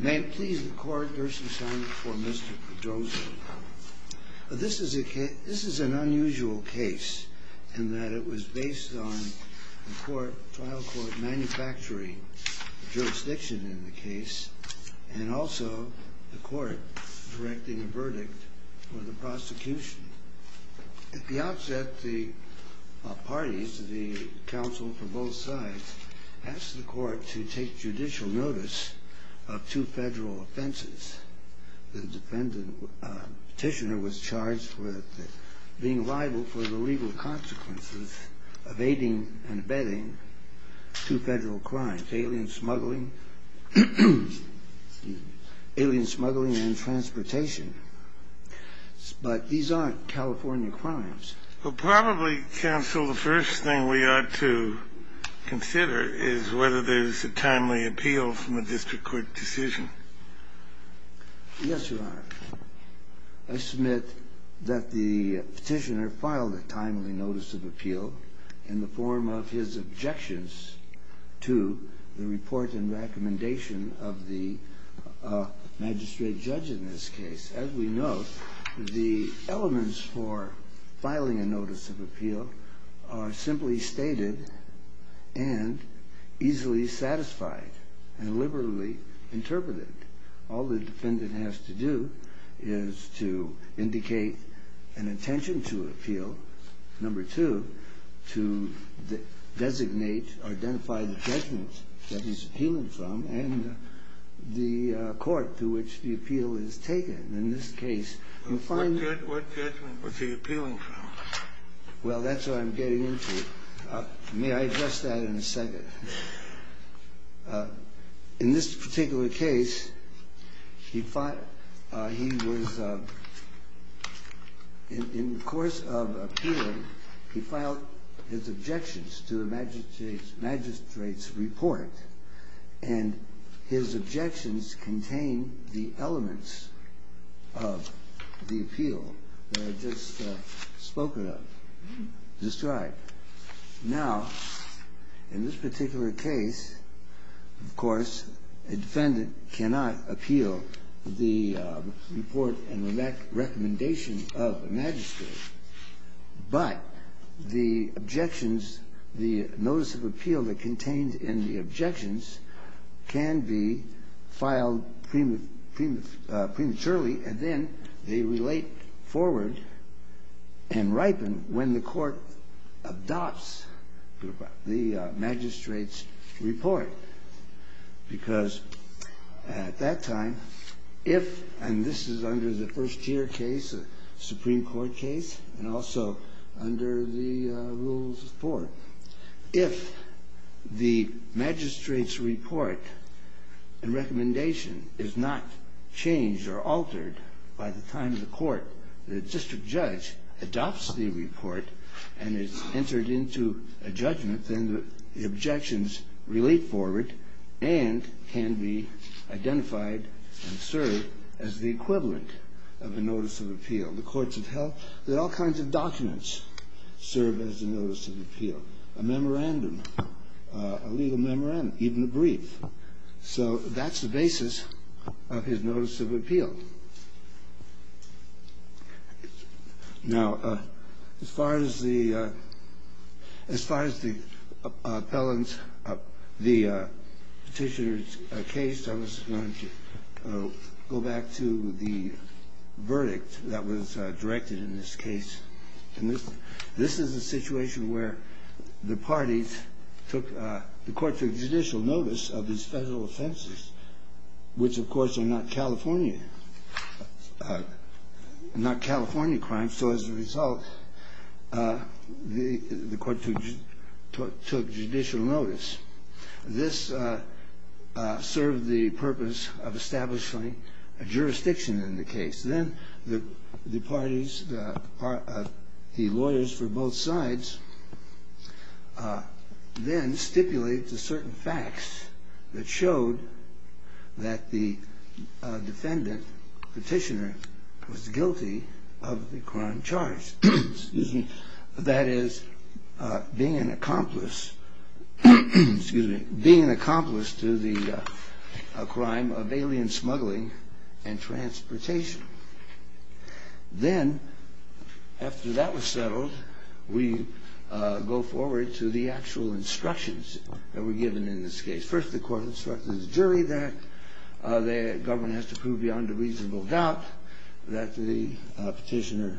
May it please the Court, Gerson Simon v. Mr. Pedroza This is an unusual case in that it was based on the trial court manufacturing jurisdiction in the case and also the court directing a verdict for the prosecution. At the outset, the parties, the counsel for both sides, asked the court to take judicial notice of two federal offenses. The petitioner was charged with being liable for the legal consequences of aiding and abetting two federal crimes, alien smuggling and transportation. But these aren't California crimes. Well, probably, counsel, the first thing we ought to consider is whether there's a timely appeal from a district court decision. Yes, Your Honor. I submit that the petitioner filed a timely notice of appeal in the form of his objections to the report and recommendation of the magistrate judge in this case. As we know, the elements for filing a notice of appeal are simply stated and easily satisfied and liberally interpreted. All the defendant has to do is to indicate an intention to appeal. Number two, to designate or identify the judgment that he's appealing from and the court to which the appeal is taken. In this case, you find... What judgment was he appealing from? Well, that's what I'm getting into. May I address that in a second? In this particular case, he was... In the course of appealing, he filed his objections to the magistrate's report and his objections contain the elements of the appeal that I've just spoken of described. Now, in this particular case, of course, a defendant cannot appeal the report and recommendation of the magistrate, but the objections, the notice of appeal that contained in the objections can be filed prematurely and then they relate forward and ripen when the court adopts the magistrate's report because at that time, if... And this is under the first year case, the Supreme Court case, and also under the rules of court. If the magistrate's report and recommendation is not changed or altered by the time the court, the district judge, adopts the report and it's entered into a judgment, then the objections relate forward and can be identified and served as the equivalent of a notice of appeal. The courts of health... There are all kinds of documents served as a notice of appeal. A memorandum, a legal memorandum, even a brief. So that's the basis of his notice of appeal. Now, as far as the appellant, the petitioner's case, I was going to go back to the verdict that was directed in this case. And this is a situation where the parties took... The court took judicial notice of these federal offenses, which, of course, are not California. Not California crimes. So as a result, the court took judicial notice. This served the purpose of establishing a jurisdiction in the case. Then the parties, the lawyers for both sides, then stipulated certain facts that showed that the defendant, petitioner, was guilty of the crime charged. That is, being an accomplice to the crime of alien smuggling and transportation. Then, after that was settled, we go forward to the actual instructions that were given in this case. First, the court instructed the jury that the government has to prove beyond a reasonable doubt that the petitioner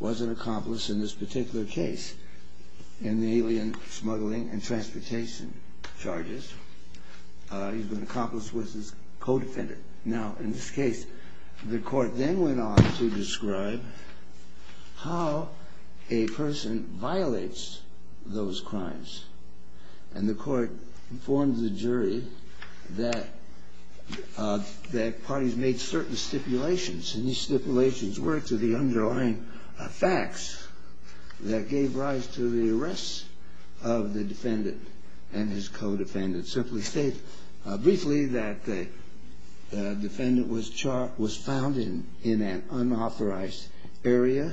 was an accomplice in this particular case, in the alien smuggling and transportation charges. He's been an accomplice with his co-defendant. Now, in this case, the court then went on to describe how a person violates those crimes. And the court informed the jury that parties made certain stipulations, and these stipulations were to the underlying facts that gave rise to the arrest of the defendant and his co-defendant. I should simply state briefly that the defendant was found in an unauthorized area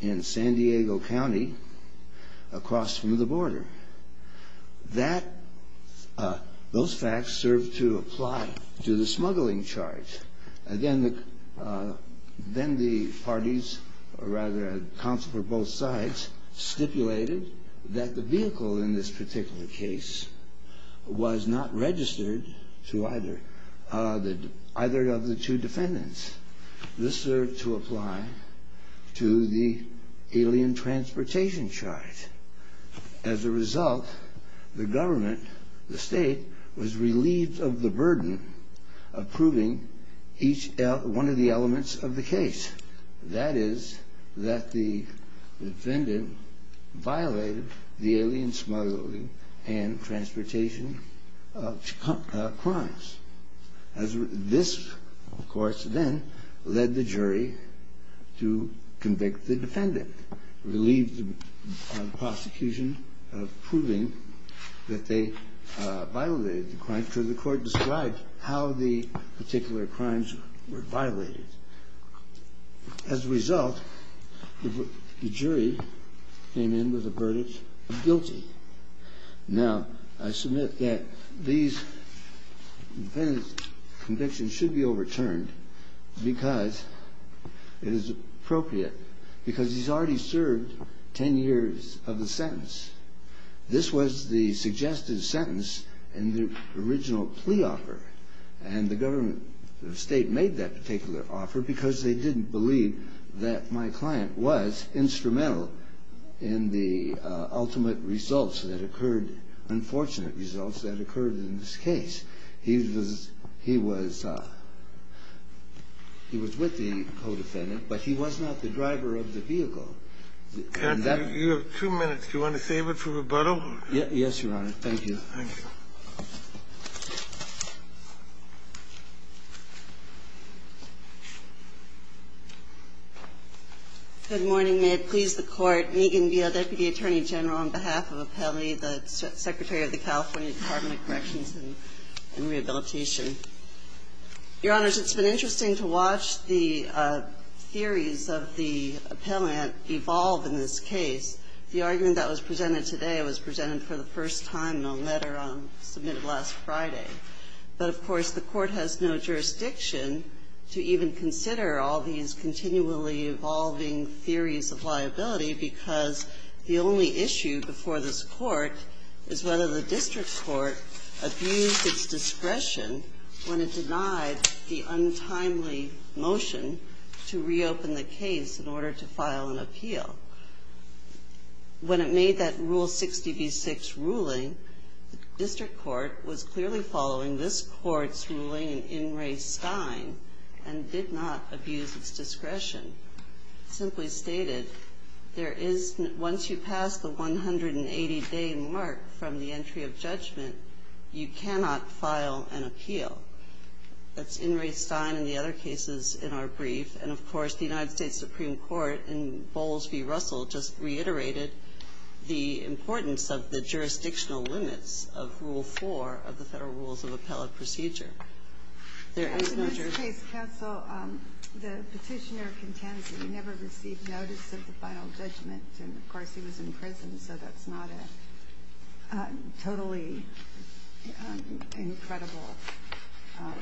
in San Diego County, across from the border. Those facts served to apply to the smuggling charge. Then the parties, or rather, counsel for both sides, stipulated that the vehicle in this particular case was not registered to either of the two defendants. This served to apply to the alien transportation charge. As a result, the government, the state, was relieved of the burden of proving one of the elements of the case. That is, that the defendant violated the alien smuggling and transportation crimes. This, of course, then led the jury to convict the defendant, relieve the prosecution of proving that they violated the crimes, after the court described how the particular crimes were violated. As a result, the jury came in with a verdict of guilty. Now, I submit that these defendants' convictions should be overturned because it is appropriate, because he's already served 10 years of the sentence. This was the suggested sentence in the original plea offer. And the government, the state, made that particular offer because they didn't believe that my client was instrumental in the ultimate results that occurred, unfortunate results that occurred in this case. He was with the co-defendant, but he was not the driver of the vehicle. Kennedy, you have two minutes. Do you want to save it for rebuttal? Yes, Your Honor. Thank you. Thank you. Good morning. May it please the Court. Megan Beale, Deputy Attorney General, on behalf of Appellee, the Secretary of the California Department of Corrections and Rehabilitation. Your Honors, it's been interesting to watch the theories of the appellant evolve in this case. The argument that was presented today was presented for the first time in a letter submitted last Friday. But, of course, the Court has no jurisdiction to even consider all these continually evolving theories of liability because the only issue before this Court is whether the District Court abused its discretion when it denied the untimely motion to reopen the case in order to file an appeal. When it made that Rule 60b-6 ruling, the District Court was clearly following this Court's ruling in In Re Stine and did not abuse its discretion. Simply stated, once you pass the 180-day mark from the entry of judgment, you cannot file an appeal. That's In Re Stine and the other cases in our brief. And, of course, the United States Supreme Court in Bowles v. Russell just reiterated the importance of the jurisdictional limits of Rule 4 of the Federal Rules of Appellate Procedure. There is no jurisdiction. The petitioner contends that he never received notice of the final judgment. And, of course, he was in prison, so that's not a totally incredible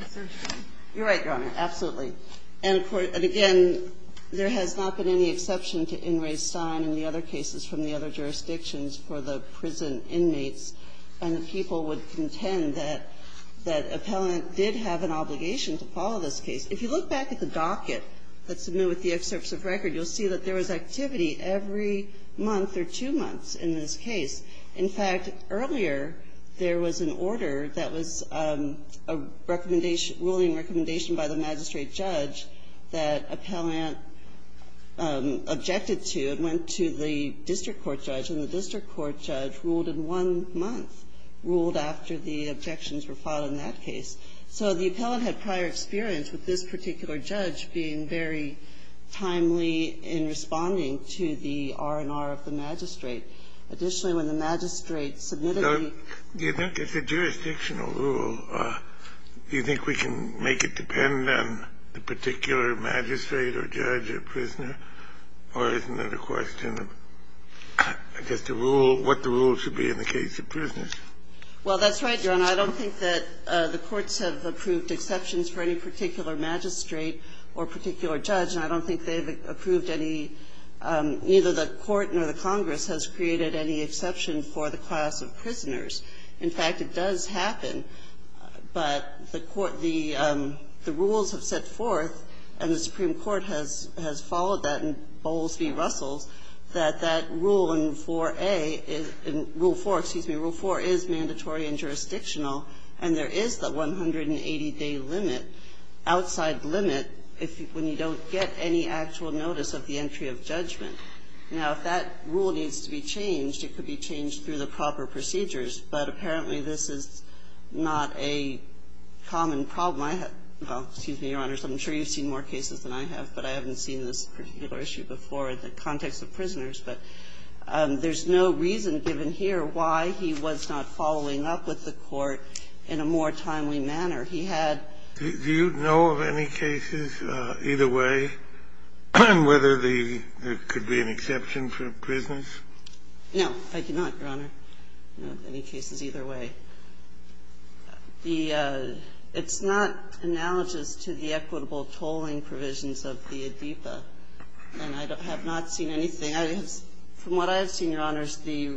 assertion. You're right, Your Honor. Absolutely. And, again, there has not been any exception to In Re Stine and the other cases from the other jurisdictions for the prison inmates. And the people would contend that Appellant did have an obligation to follow this case. If you look back at the docket that's amended with the excerpts of record, you'll see that there was activity every month or two months in this case. In fact, earlier, there was an order that was a ruling recommendation by the magistrate judge that Appellant objected to. It went to the district court judge, and the district court judge ruled in one month, ruled after the objections were filed in that case. So the appellant had prior experience with this particular judge being very timely in responding to the R&R of the magistrate. Additionally, when the magistrate submitted the ---- Do you think it's a jurisdictional rule? Do you think we can make it depend on the particular magistrate or judge or prisoner, or is it a question of, I guess, the rule, what the rule should be in the case of prisoners? Well, that's right, Your Honor. I don't think that the courts have approved exceptions for any particular magistrate or particular judge, and I don't think they've approved any ---- neither the court nor the Congress has created any exception for the class of prisoners. In fact, it does happen, but the court ---- the rules have set forth, and the Supreme Court has followed that in Bowles v. Russells, that that rule in 4A ---- in Rule 4, excuse me, Rule 4 is mandatory and jurisdictional, and there is the 180-day limit, outside limit, when you don't get any actual notice of the entry of judgment. Now, if that rule needs to be changed, it could be changed through the proper procedures, but apparently this is not a common problem. Well, excuse me, Your Honors, I'm sure you've seen more cases than I have, but I haven't seen this particular issue before in the context of prisoners, but there's no reason given here why he was not following up with the court in a more timely manner. He had ---- Do you know of any cases, either way, whether there could be an exception for prisoners? No, I do not, Your Honor. I don't know of any cases either way. The ---- it's not analogous to the equitable tolling provisions of the ADEPA, and I have not seen anything. From what I have seen, Your Honors, the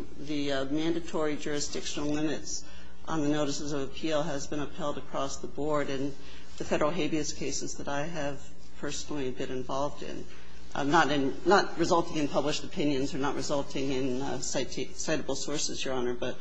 mandatory jurisdictional limits on the notices of appeal has been upheld across the board, and the Federal habeas cases that I have personally been involved in, not in ---- not resulting in published opinions or not resulting in citable sources, Your Honor, but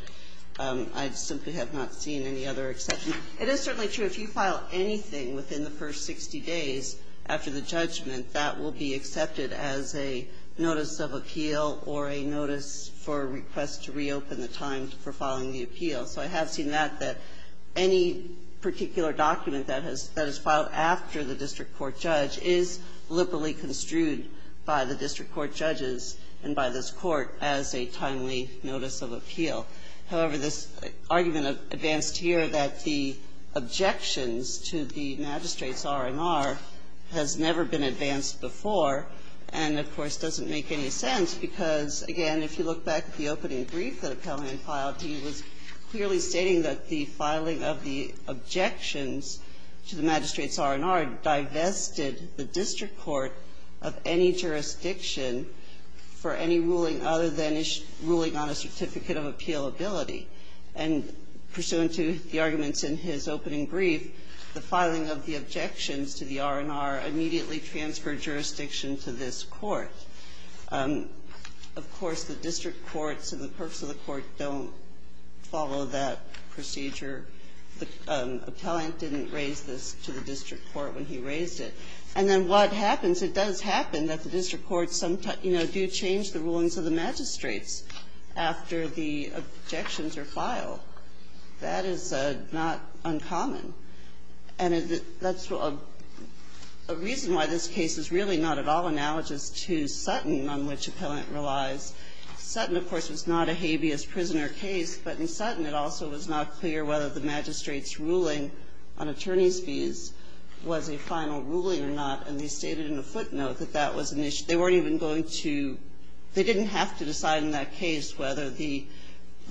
I simply have not seen any other exception. It is certainly true if you file anything within the first 60 days after the judgment, that will be accepted as a notice of appeal or a notice for a request to reopen the time for filing the appeal. So I have seen that, that any particular document that has ---- that is filed after the district court judge is liberally construed by the district court judges and by this Court as a timely notice of appeal. However, this argument advanced here that the objections to the magistrate's R&R has never been advanced before and, of course, doesn't make any sense because, again, if you look back at the opening brief that Appellant filed, he was clearly stating that the filing of the objections to the magistrate's R&R divested the district court of any jurisdiction for any ruling other than ruling on a certificate of appealability, and pursuant to the arguments in his opening brief, the filing of the objections to the R&R immediately transferred jurisdiction to this Court. Of course, the district courts and the purpose of the court don't follow that procedure. The Appellant didn't raise this to the district court when he raised it. And then what happens? It does happen that the district courts sometimes, you know, do change the rulings of the magistrates after the objections are filed. That is not uncommon. And that's a reason why this case is really not at all analogous to Sutton, on which Appellant relies. Sutton, of course, was not a habeas prisoner case, but in Sutton it also was not clear whether the magistrate's ruling on attorney's fees was a final ruling or not, and they stated in a footnote that that was an issue. They weren't even going to – they didn't have to decide in that case whether the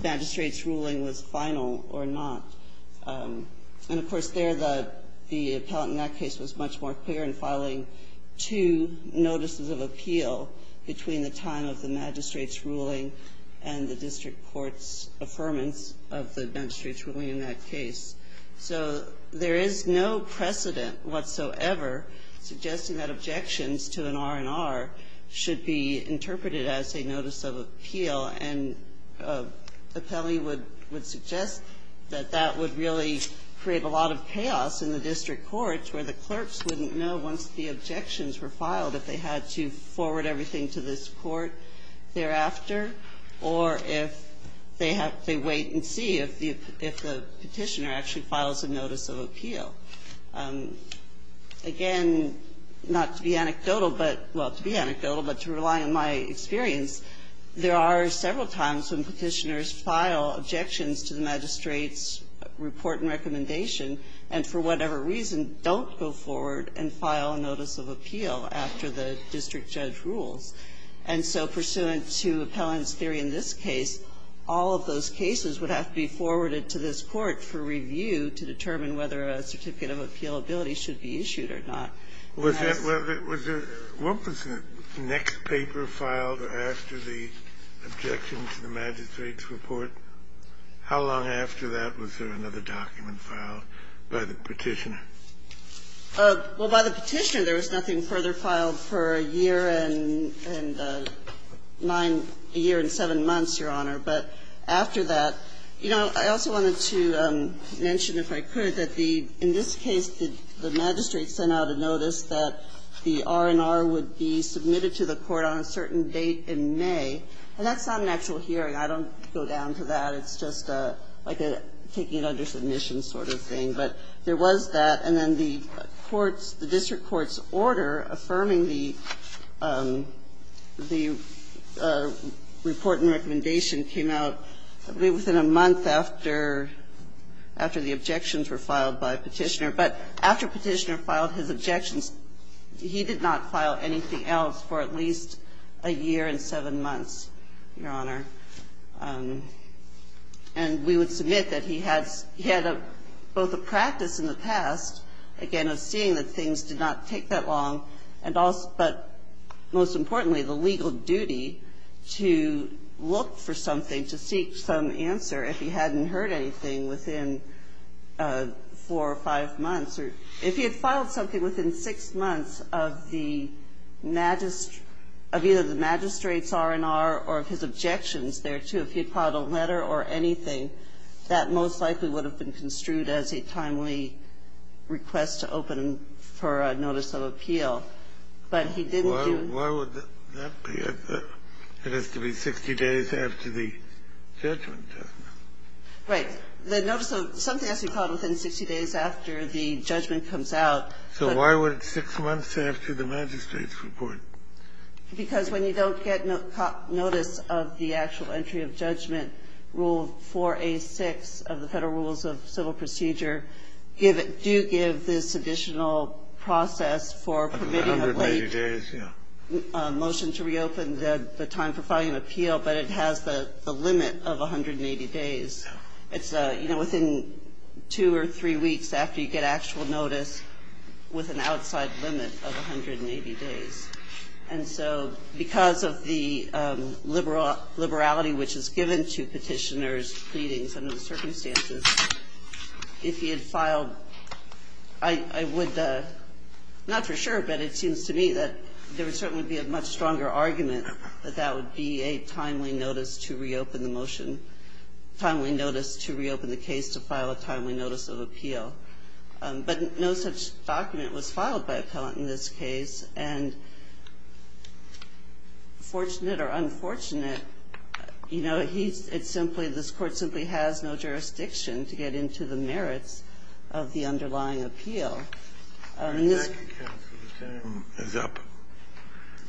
magistrate's ruling was final or not. And, of course, there the Appellant in that case was much more clear in filing two notices of appeal between the time of the magistrate's ruling and the district court's affirmance of the magistrate's ruling in that case. So there is no precedent whatsoever suggesting that objections to an R&R should be interpreted as a notice of appeal, and Appellee would suggest that that would really create a lot of chaos in the district courts where the clerks wouldn't know once the objections were filed if they had to forward everything to this court thereafter or if they wait and see if the Petitioner actually files a notice of appeal. Again, not to be anecdotal, but – well, to be anecdotal, but to rely on my experience, there are several times when Petitioners file objections to the magistrate's report and recommendation and for whatever reason don't go forward and file a notice of appeal after the district judge rules. And so pursuant to Appellant's theory in this case, all of those cases would have to be forwarded to this court for review to determine whether a certificate of appealability should be issued or not. Kennedy, was there – what was the next paper filed after the objection to the magistrate's report? How long after that was there another document filed by the Petitioner? Well, by the Petitioner, there was nothing further filed for a year and nine – a year and seven months, Your Honor. But after that – you know, I also wanted to mention, if I could, that the – in this case, the magistrate sent out a notice that the R&R would be submitted to the court on a certain date in May. And that's not an actual hearing. I don't go down to that. It's just like a taking it under submission sort of thing. But there was that. And then the court's – the district court's order affirming the – the report and recommendation came out within a month after – after the objections were filed by Petitioner. But after Petitioner filed his objections, he did not file anything else for at least a year and seven months, Your Honor. And we would submit that he had – he had both a practice in the past, again, of seeing that things did not take that long, and also – but most importantly, the legal duty to look for something, to seek some answer if he hadn't heard anything within four or five months. Or if he had filed something within six months of the – of either the magistrate's report, or of his objections thereto, if he filed a letter or anything, that most likely would have been construed as a timely request to open for a notice of appeal. But he didn't do – Kennedy, why would that be? It has to be 60 days after the judgment, doesn't it? Right. The notice of – something has to be filed within 60 days after the judgment comes out. So why would it be six months after the magistrate's report? Because when you don't get notice of the actual entry of judgment, Rule 4A6 of the Federal Rules of Civil Procedure give – do give this additional process for permitting a late motion to reopen the time for filing an appeal, but it has the limit of 180 days. It's, you know, within two or three weeks after you get actual notice with an outside limit of 180 days. And so because of the liberality which is given to petitioners pleading under the circumstances, if he had filed – I would – not for sure, but it seems to me that there would certainly be a much stronger argument that that would be a timely notice to reopen the motion – timely notice to reopen the case to file a timely notice of appeal. But no such document was filed by Appellant in this case, and fortunate or unfortunate, you know, he's – it's simply – this Court simply has no jurisdiction to get into the merits of the underlying appeal. And this – The time is up.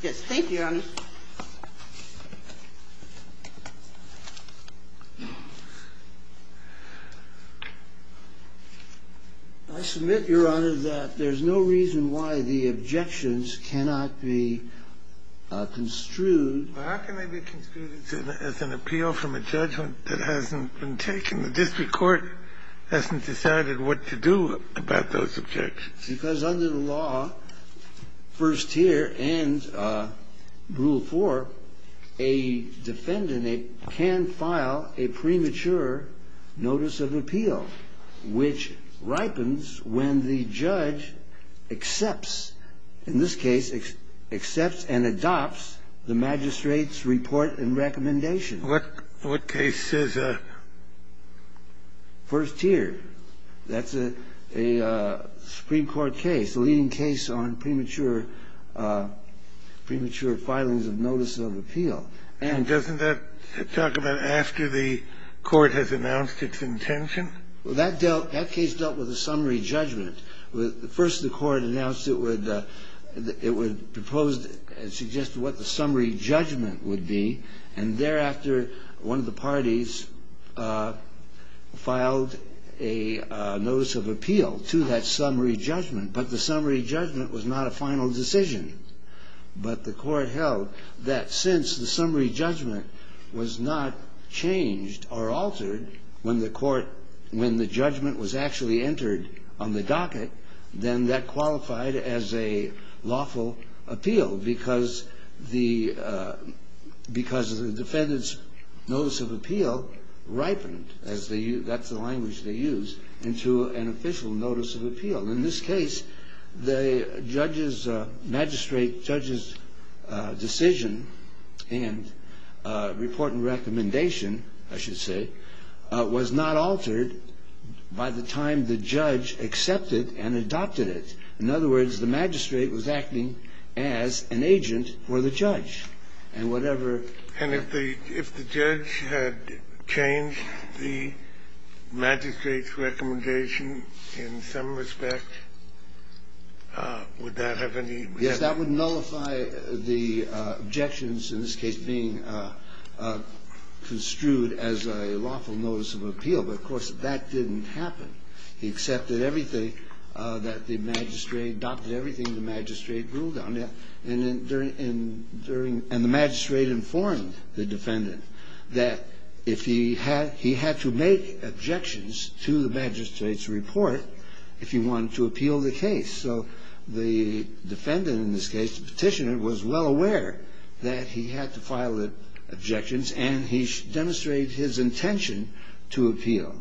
Yes. Thank you, Your Honor. I submit, Your Honor, that there's no reason why the objections cannot be construed How can they be construed as an appeal from a judgment that hasn't been taken? The district court hasn't decided what to do about those objections. Because under the law, first tier and Rule 4, a defendant can file a premature notice of appeal, which ripens when the judge accepts – in this case, accepts and adopts the magistrate's report and recommendation. What case says that? First tier. That's a Supreme Court case, a leading case on premature – premature filings of notices of appeal. And doesn't that talk about after the Court has announced its intention? Well, that dealt – that case dealt with a summary judgment. First, the Court announced it would – it would propose and suggest what the summary judgment would be. And thereafter, one of the parties filed a notice of appeal to that summary judgment. But the summary judgment was not a final decision. But the Court held that since the summary judgment was not changed or altered when the Court – when the judgment was actually entered on the docket, then that – because the defendant's notice of appeal ripened, as they – that's the language they use, into an official notice of appeal. In this case, the judge's magistrate – judge's decision and report and recommendation, I should say, was not altered by the time the judge accepted and adopted it. In other words, the magistrate was acting as an agent for the judge. And whatever – And if the – if the judge had changed the magistrate's recommendation in some respect, would that have any – Yes. That would nullify the objections in this case being construed as a lawful notice of appeal. But, of course, that didn't happen. He accepted everything that the magistrate – adopted everything the magistrate ruled on. And during – and the magistrate informed the defendant that if he had – he had to make objections to the magistrate's report if he wanted to appeal the case. So the defendant in this case, the petitioner, was well aware that he had to file the objections, and he demonstrated his intention to appeal.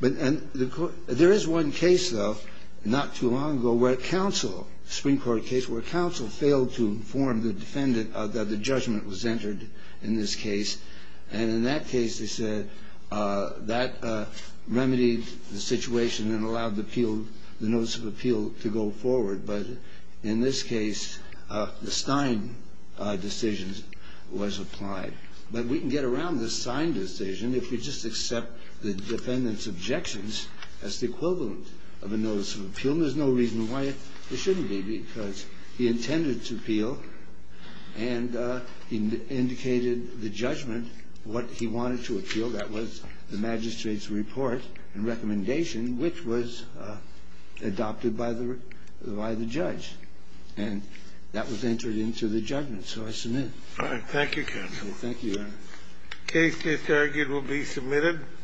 But – and the – there is one case, though, not too long ago, where counsel – counsel failed to inform the defendant that the judgment was entered in this case. And in that case, they said that remedied the situation and allowed the appeal – the notice of appeal to go forward. But in this case, the Stein decision was applied. But we can get around the Stein decision if we just accept the defendant's objections as the equivalent of a notice of appeal. There's no reason why it shouldn't be, because he intended to appeal, and he indicated the judgment, what he wanted to appeal. That was the magistrate's report and recommendation, which was adopted by the – by the judge. And that was entered into the judgment. So I submit. All right. Thank you, counsel. Thank you, Your Honor. The case is argued will be submitted.